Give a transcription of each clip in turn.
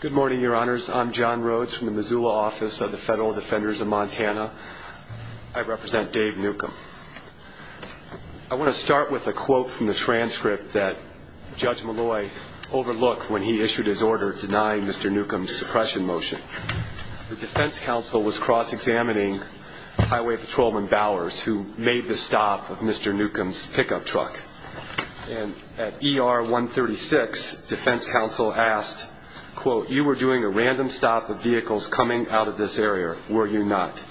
Good morning, your honors. I'm John Rhodes from the Missoula Office of the Federal Defenders of Montana. I represent Dave Newcomb. I want to start with a quote from the transcript that Judge Malloy overlooked when he issued his order denying Mr. Newcomb's suppression motion. The defense counsel was cross-examining Highway Patrolman Bowers, who made the stop of Mr. Newcomb's pickup truck. And at ER 136, defense counsel asked, quote, you were doing a random stop of vehicles coming out of this area, were you not?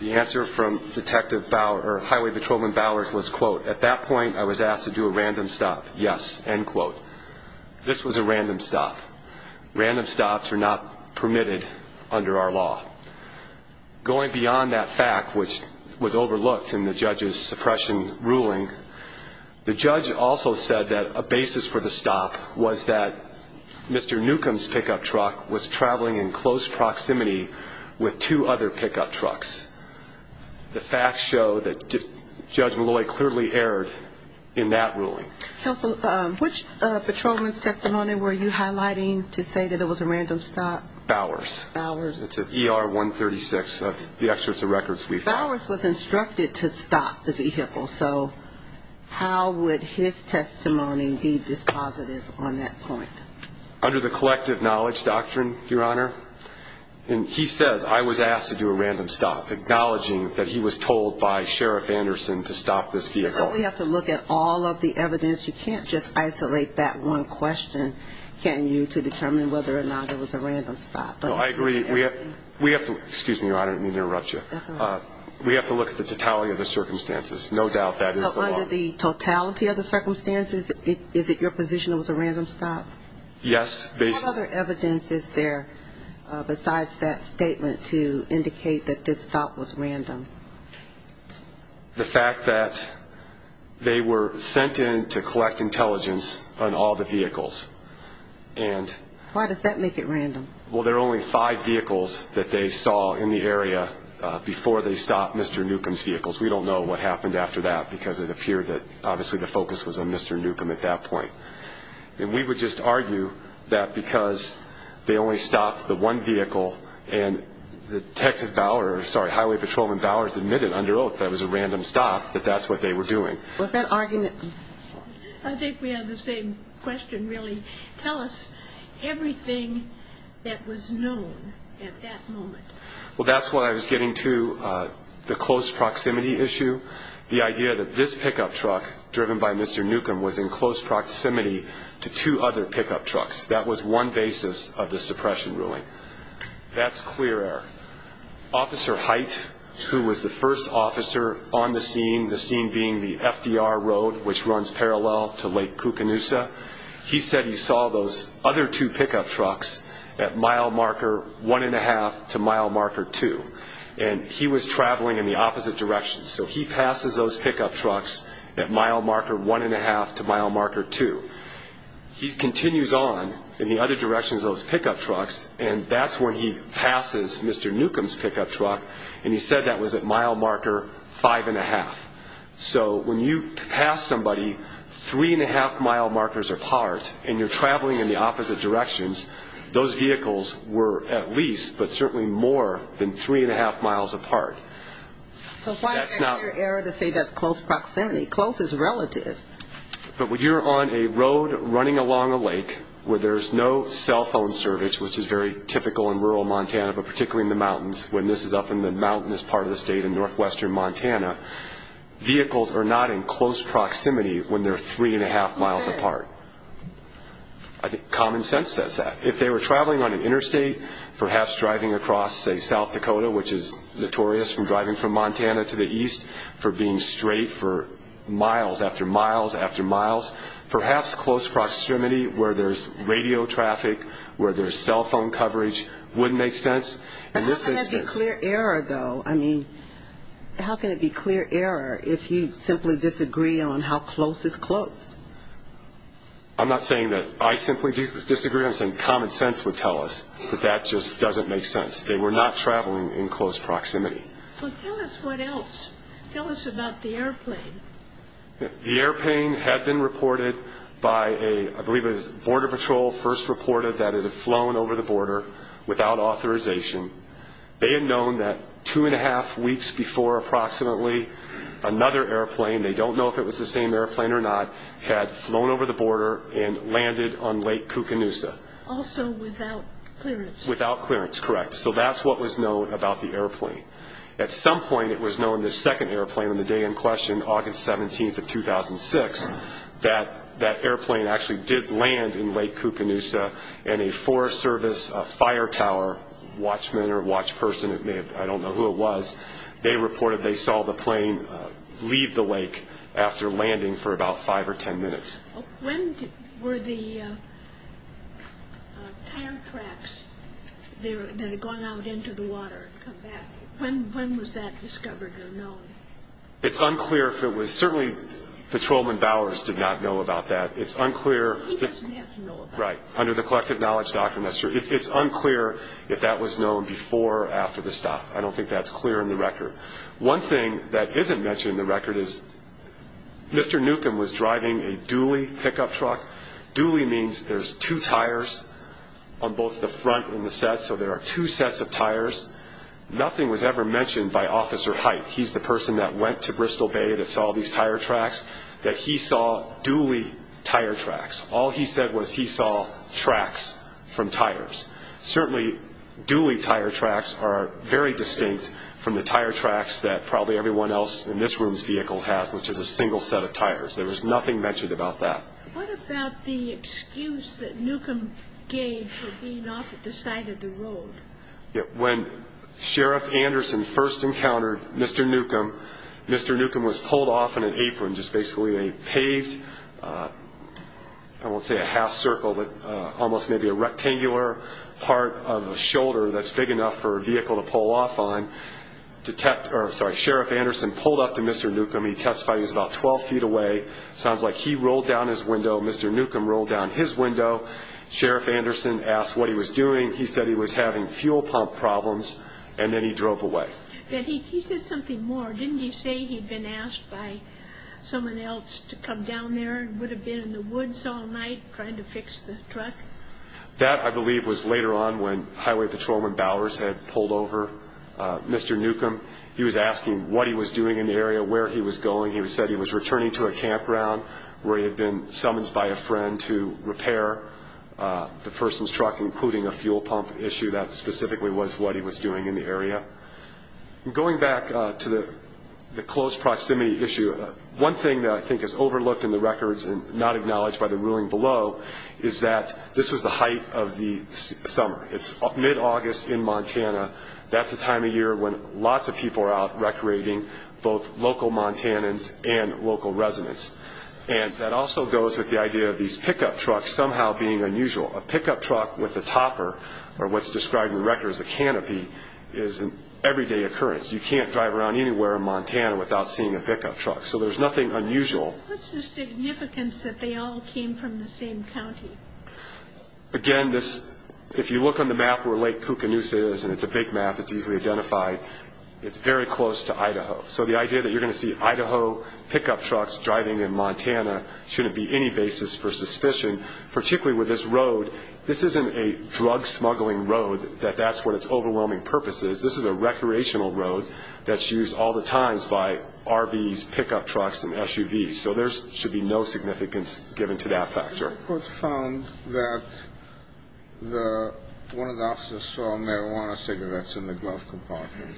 The answer from Detective Bowers, or Highway Patrolman Bowers was, quote, at that point I was asked to do a random stop, yes, end quote. This was a random stop. Random stops are not permitted under our law. Going beyond that fact, which was overlooked in the judge's suppression ruling, the judge also said that a basis for the stop was that Mr. Newcomb's pickup truck was traveling in close proximity with two other pickup trucks. The facts show that Judge Malloy clearly erred in that ruling. Counsel, which patrolman's testimony were you highlighting to say that it was a random stop? Bowers. Bowers. It's at ER 136 of the Excerpts of Records we found. Bowers was instructed to stop the vehicle, so how would his testimony be dispositive on that point? Under the collective knowledge doctrine, Your Honor. And he says, I was asked to do a random stop, acknowledging that he was told by Sheriff Anderson to stop this vehicle. Well, we have to look at all of the evidence. You can't just isolate that one question, can you, to determine whether or not it was a random stop. No, I agree. We have to, excuse me, Your Honor, I didn't mean to interrupt you. We have to look at the totality of the circumstances. No doubt that is the law. So under the totality of the circumstances, is it your position it was a random stop? Yes. What other evidence is there besides that statement to indicate that this stop was random? The fact that they were sent in to collect intelligence on all the vehicles. Why does that make it random? Well, there are only five vehicles that they saw in the area before they stopped Mr. Newcomb's vehicles. We don't know what happened after that because it appeared that obviously the focus was on Mr. Newcomb at that point. And we would just argue that because they only stopped the one vehicle and the Detective Bowers, sorry, Highway Patrolman Bowers admitted under oath that it was a random stop, that that's what they were doing. Was that argument... I think we have the same question really. Tell us everything that was known at that moment. Well that's what I was getting to, the close proximity issue. The idea that this pickup truck driven by Mr. Newcomb was in close proximity to two other pickup trucks. That was one basis of the suppression ruling. That's clear error. Officer Height, who was the first officer on the scene, the scene being the FDR road which runs parallel to Lake Cucanusa, he said he saw those other two pickup trucks at mile marker one and a half to mile marker two. And he was traveling in the opposite direction. So he passes those pickup trucks at mile marker one and a half to mile marker two. He continues on in the other direction of those pickup trucks and that's when he passes Mr. Newcomb's pickup truck and he said that was at mile marker five and a half. So when you pass somebody three and a half mile markers apart and you're traveling in the opposite directions, those vehicles were at least, but certainly more than three and a half miles apart. So why is that clear error to say that's close proximity? Close is relative. But when you're on a road running along a lake where there's no cell phone service, which is very typical in rural Montana, but particularly in the mountains, when this is up in the mountainous part of the state in northwestern Montana, vehicles are not in close proximity when they're three and a half miles apart. Common sense says that. If they were traveling on an interstate, perhaps driving across, say, South Dakota, which is notorious for driving from Montana to the east, for being straight for miles after miles after miles, perhaps close proximity where there's radio traffic, where there's cell phone coverage would make sense. But how can it be clear error, though? I mean, how can it be clear error if you simply disagree on how close is close? I'm not saying that I simply disagree. I'm saying common sense would tell us that that just doesn't make sense. They were not traveling in close proximity. Well, tell us what else. Tell us about the airplane. The airplane had been reported by a, I believe it was Border Patrol first reported that it had flown over the border without authorization. They had known that two and a half weeks before approximately another airplane, they don't know if it was the same airplane or not, had flown over the border and landed on Lake Cucanusa. Also without clearance. Without clearance, correct. So that's what was known about the airplane. At some point it was known the second airplane on the day in question, August 17th of 2006, that that airplane actually did land in Lake Cucanusa and a Forest Service fire tower watchman or watch person, I don't know who it was, they reported they saw the plane leave the lake after landing for about five or ten minutes. When were the tire traps that had gone out into the water come back? When was that discovered or known? It's unclear if it was, certainly Patrolman Bowers did not know about that. It's unclear He doesn't have to know about that. Right. Under the collective knowledge document, that's true. It's unclear if that was known before or after the stop. I don't think that's clear in the record. One thing that isn't clear is that he was driving a Dooley pickup truck. Dooley means there's two tires on both the front and the set, so there are two sets of tires. Nothing was ever mentioned by Officer Hite. He's the person that went to Bristol Bay that saw these tire tracks, that he saw Dooley tire tracks. All he said was he saw tracks from tires. Certainly, Dooley tire tracks are very distinct from the tire tracks that probably everyone else in this room's heard of tires. There was nothing mentioned about that. What about the excuse that Newcomb gave for being off at the side of the road? When Sheriff Anderson first encountered Mr. Newcomb, Mr. Newcomb was pulled off in an apron, just basically a paved, I won't say a half circle, but almost maybe a rectangular part of a shoulder that's big enough for a vehicle to pull off on. Sheriff Anderson pulled up to Mr. Newcomb. He testified he was about 12 feet away. It sounds like he rolled down his window. Mr. Newcomb rolled down his window. Sheriff Anderson asked what he was doing. He said he was having fuel pump problems, and then he drove away. He said something more. Didn't he say he'd been asked by someone else to come down there and would have been in the woods all night trying to fix the truck? That I believe was later on when Highway Patrolman Bowers had pulled over Mr. Newcomb. He was asking what he was doing in the area, where he was going. He said he was returning to a campground where he had been summoned by a friend to repair the person's truck, including a fuel pump issue. That specifically was what he was doing in the area. Going back to the close proximity issue, one thing that I think is overlooked in the records and not acknowledged by the ruling below is that this was the height of the summer. It's both local Montanans and local residents. That also goes with the idea of these pickup trucks somehow being unusual. A pickup truck with a topper, or what's described in the record as a canopy, is an everyday occurrence. You can't drive around anywhere in Montana without seeing a pickup truck, so there's nothing unusual. What's the significance that they all came from the same county? Again, if you look on the map where Lake Cucanoose is, and it's a big map, it's easily identified, it's very close to Idaho. So the idea that you're going to see Idaho pickup trucks driving in Montana shouldn't be any basis for suspicion, particularly with this road. This isn't a drug-smuggling road, that that's what its overwhelming purpose is. This is a recreational road that's used all the time by RVs, pickup trucks, and SUVs. So there should be no significance given to that factor. A report found that one of the officers saw marijuana cigarettes in the glove compartment.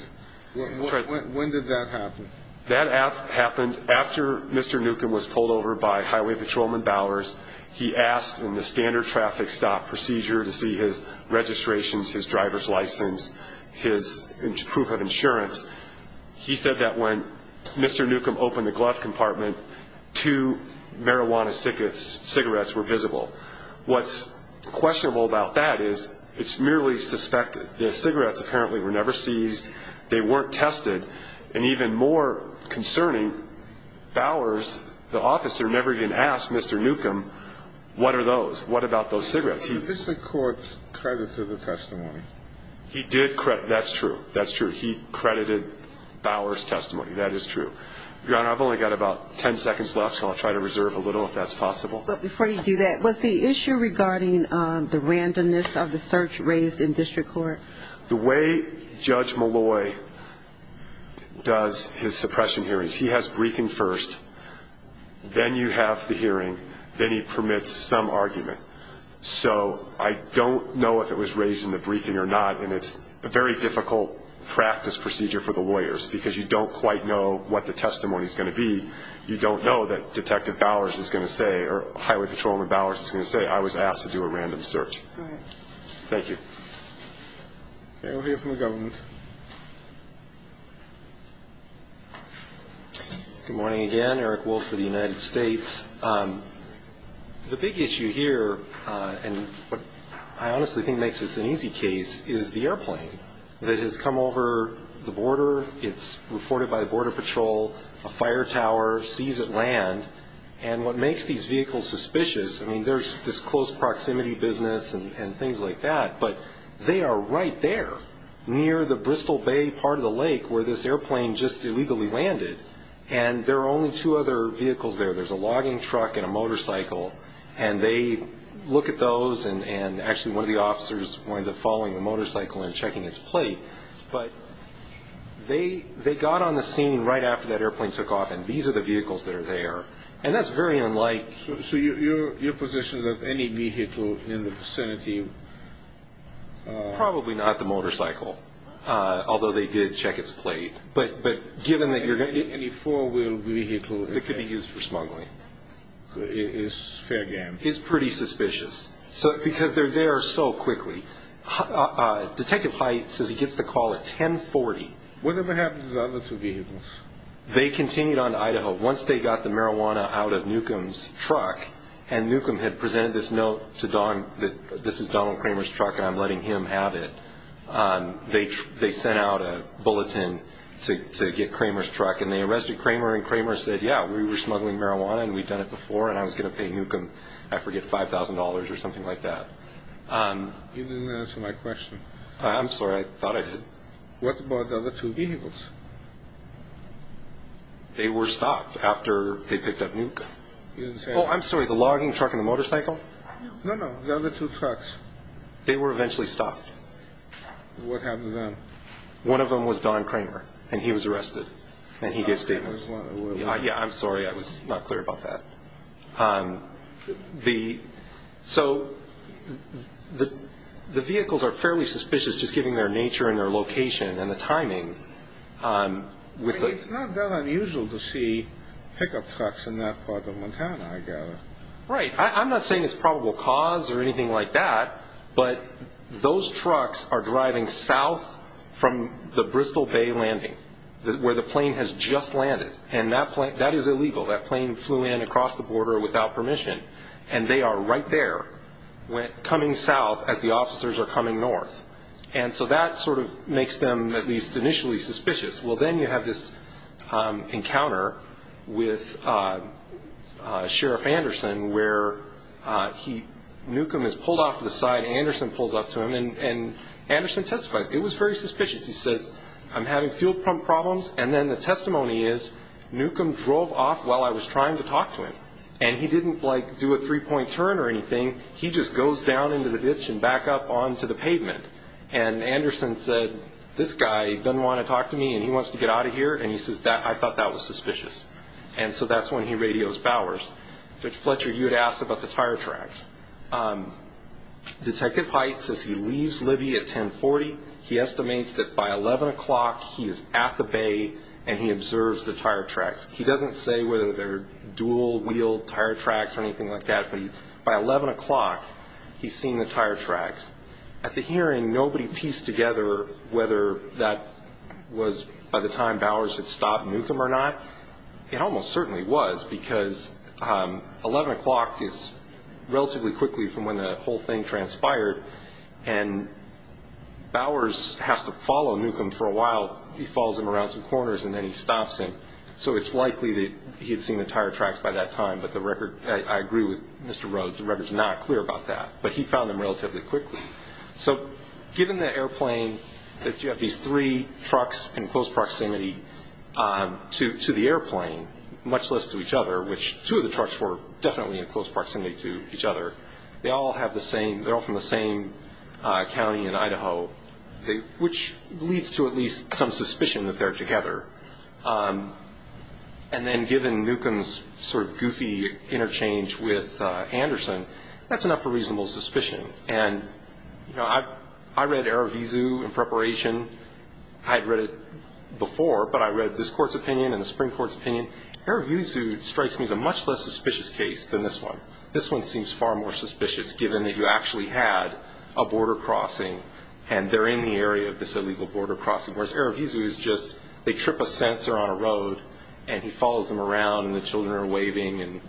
When did that happen? That happened after Mr. Newcomb was pulled over by Highway Patrolman Bowers. He asked in the standard traffic stop procedure to see his registrations, his driver's license, his proof of insurance. He said that when Mr. Newcomb opened the glove compartment, two marijuana cigarettes were visible. What's questionable about that is it's merely suspected. The cigarettes apparently were never seized, they weren't tested, and even more concerning, Bowers, the officer, never even asked Mr. Newcomb, what are those? What about those cigarettes? Did this court credit to the testimony? He did credit, that's true. He credited Bowers' testimony, that is true. Your Honor, I've only got about 10 seconds left, so I'll try to reserve a little if that's possible. But before you do that, was the issue regarding the randomness of the search raised in district court? The way Judge Malloy does his suppression hearings, he has briefing first, then you have the hearing, then he permits some argument. So I don't know if it was raised in the briefing or not, and it's a very difficult practice procedure for the lawyers because you don't quite know what the testimony is going to be. You don't know that Detective Bowers is going to say, or Highway Patrolman Bowers is going to say, I was asked to do a random search. All right. Thank you. Okay, we'll hear from the government. Good morning again. Eric Wolf for the United States. The big issue here, and what I honestly think makes this an easy case, is the airplane that has come over the border. It's reported by the Border Patrol, a fire tower, sees it land. And what makes these vehicles suspicious, I mean, there's this close proximity business and things like that, but they are right there near the Bristol Bay part of the lake where this airplane just illegally landed. And there are only two other vehicles there. There's a logging truck and a motorcycle. And they officers wind up following the motorcycle and checking its plate. But they got on the scene right after that airplane took off, and these are the vehicles that are there. And that's very unlike... So your position is that any vehicle in the vicinity... Probably not the motorcycle, although they did check its plate. But given that you're going to... Any four-wheel vehicle... That could be used for smuggling. Is fair game. It's pretty suspicious, because they're there so quickly. Detective Hite says he gets the call at 1040. What happened to the other two vehicles? They continued on to Idaho. Once they got the marijuana out of Newcomb's truck, and Newcomb had presented this note to Don, that this is Donald Kramer's truck and I'm letting him have it, they sent out a bulletin to get Kramer's truck. And they arrested Kramer, and Kramer said, yeah, we were smuggling marijuana, and we'd done it before, and I was going to nuke him, I forget, $5,000 or something like that. You didn't answer my question. I'm sorry, I thought I did. What about the other two vehicles? They were stopped after they picked up nuke. You didn't say... Oh, I'm sorry, the logging truck and the motorcycle? No, no, the other two trucks. They were eventually stopped. What happened then? One of them was Don Kramer, and he was arrested, and he gave statements. I'm sorry, I was not clear about that. So the vehicles are fairly suspicious, just given their nature and their location and the timing. I mean, it's not that unusual to see pickup trucks in that part of Montana, I gather. Right. I'm not saying it's probable cause or anything like that, but those trucks are just landed, and that is illegal. That plane flew in across the border without permission, and they are right there, coming south as the officers are coming north. And so that sort of makes them, at least initially, suspicious. Well then you have this encounter with Sheriff Anderson, where Nukem is pulled off to the side, Anderson pulls up to him, and Anderson testifies. It was very suspicious. He says, I'm having fuel pump problems, and then the testimony is, Nukem drove off while I was trying to talk to him, and he didn't do a three-point turn or anything. He just goes down into the ditch and back up onto the pavement. And Anderson said, this guy doesn't want to talk to me, and he wants to get out of here. And he says, I thought that was suspicious. And so that's when he radios Bowers. Judge Fletcher, you had asked about the tire tracks. Detective Hite says he leaves Libby at 1040. He estimates that by 11 o'clock, he is at the bay, and he observes the tire tracks. He doesn't say whether they're dual-wheel tire tracks or anything like that, but by 11 o'clock, he's seen the tire tracks. At the hearing, nobody pieced together whether that was by the time Bowers had stopped Nukem or not. It almost certainly was, because 11 o'clock is relatively quickly from when the whole thing transpired, and Bowers has to follow Nukem for a while. He follows him around some corners, and then he stops him. So it's likely that he had seen the tire tracks by that time, but the record, I agree with Mr. Rhodes, the record's not clear about that. But he found them relatively quickly. So given the airplane, that you have these three trucks in close proximity to the airplane, much less to each other, which two of the trucks were definitely in close proximity to each other, they all have the same, they're all from the same county in Idaho, which leads to at least some suspicion that they're together. And then given Nukem's sort of goofy interchange with Anderson, that's enough for reasonable suspicion. And, you know, I read Erevezu in preparation. I had read it before, but I read this Court's opinion and the Supreme Court's opinion. Erevezu strikes me as a much less suspicious case than this one. This one seems far more suspicious, given that you actually had a border crossing, and they're in the area of this illegal border crossing, whereas Erevezu is just, they trip a censor on a road, and he follows them around, and the children are waving, and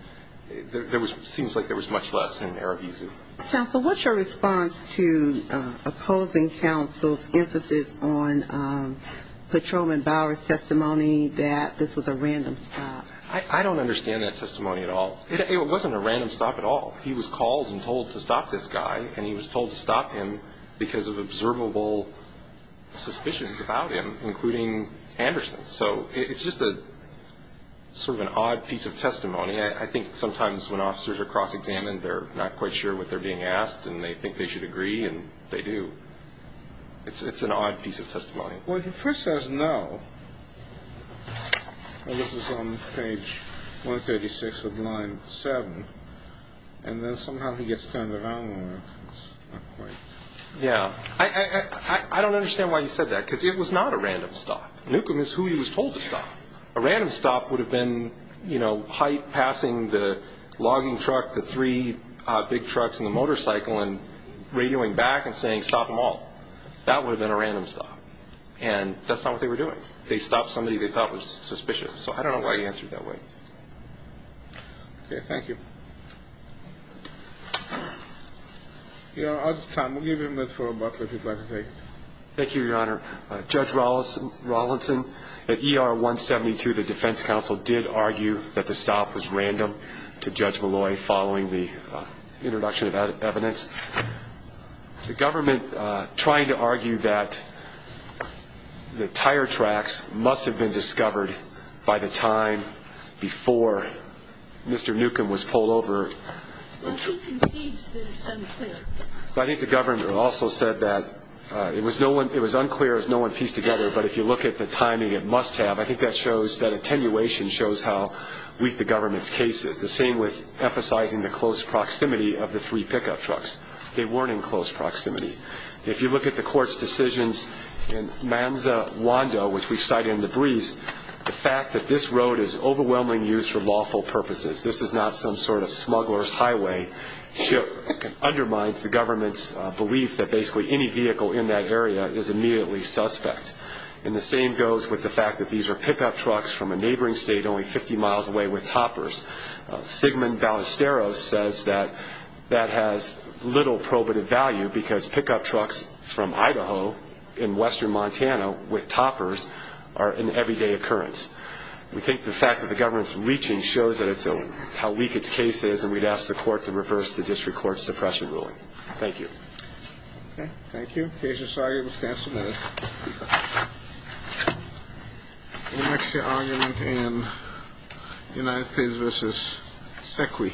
there was seems like there was much less in Erevezu. Counsel, what's your response to opposing counsel's emphasis on patrolman Bower's testimony that this was a random stop? I don't understand that testimony at all. It wasn't a random stop at all. He was called and told to stop this guy, and he was told to stop him because of observable suspicions about him, including Anderson. So it's just a sort of an odd piece of testimony. I think sometimes when officers are cross-examined, they're not quite sure what they're being asked, and they think they should agree, and they do. It's an odd piece of testimony. Well, he first says no, and this was on page 136 of line 7, and then somehow he gets turned around. Yeah. I don't understand why he said that, because it was not a random stop. Newcomb is who he was told to stop. A random stop would have been, you know, Haidt passing the logging truck, the three big trucks and the motorcycle, and radioing back and saying, stop them all. That would have been a random stop, and that's not what they were doing. They stopped somebody they thought was suspicious. So I don't know why he answered that way. Okay. Thank you. Your Honor, I'll give you a minute for rebuttal, if you'd like to take it. Thank you, Your Honor. Judge Rawlinson, at ER 172, the defense counsel did argue that the stop was random to Judge Malloy following the introduction of evidence. The government, trying to argue that the tire tracks must have been discovered by the time before Mr. Newcomb was pulled over. Well, she concedes that it's unclear. I think the governor also said that it was unclear as no one pieced together, but if you look at the timing, it must have. I think that shows, that attenuation shows how weak the government's case is. The same with emphasizing the close proximity of the three pickup trucks. They weren't in close proximity. If you look at the court's decisions in Manza Wando, which we cited in the briefs, the fact that this road is overwhelmingly used for lawful purposes, this is not some sort of the government's belief that basically any vehicle in that area is immediately suspect. The same goes with the fact that these are pickup trucks from a neighboring state only 50 miles away with toppers. Sigmund Ballesteros says that that has little probative value because pickup trucks from Idaho in western Montana with toppers are an everyday occurrence. We think the fact that the government's reaching shows how weak its case is, and we'd ask the Thank you. Okay, thank you. Case is sorted. We'll stand submitted. We'll next hear argument in United States v. Sequy.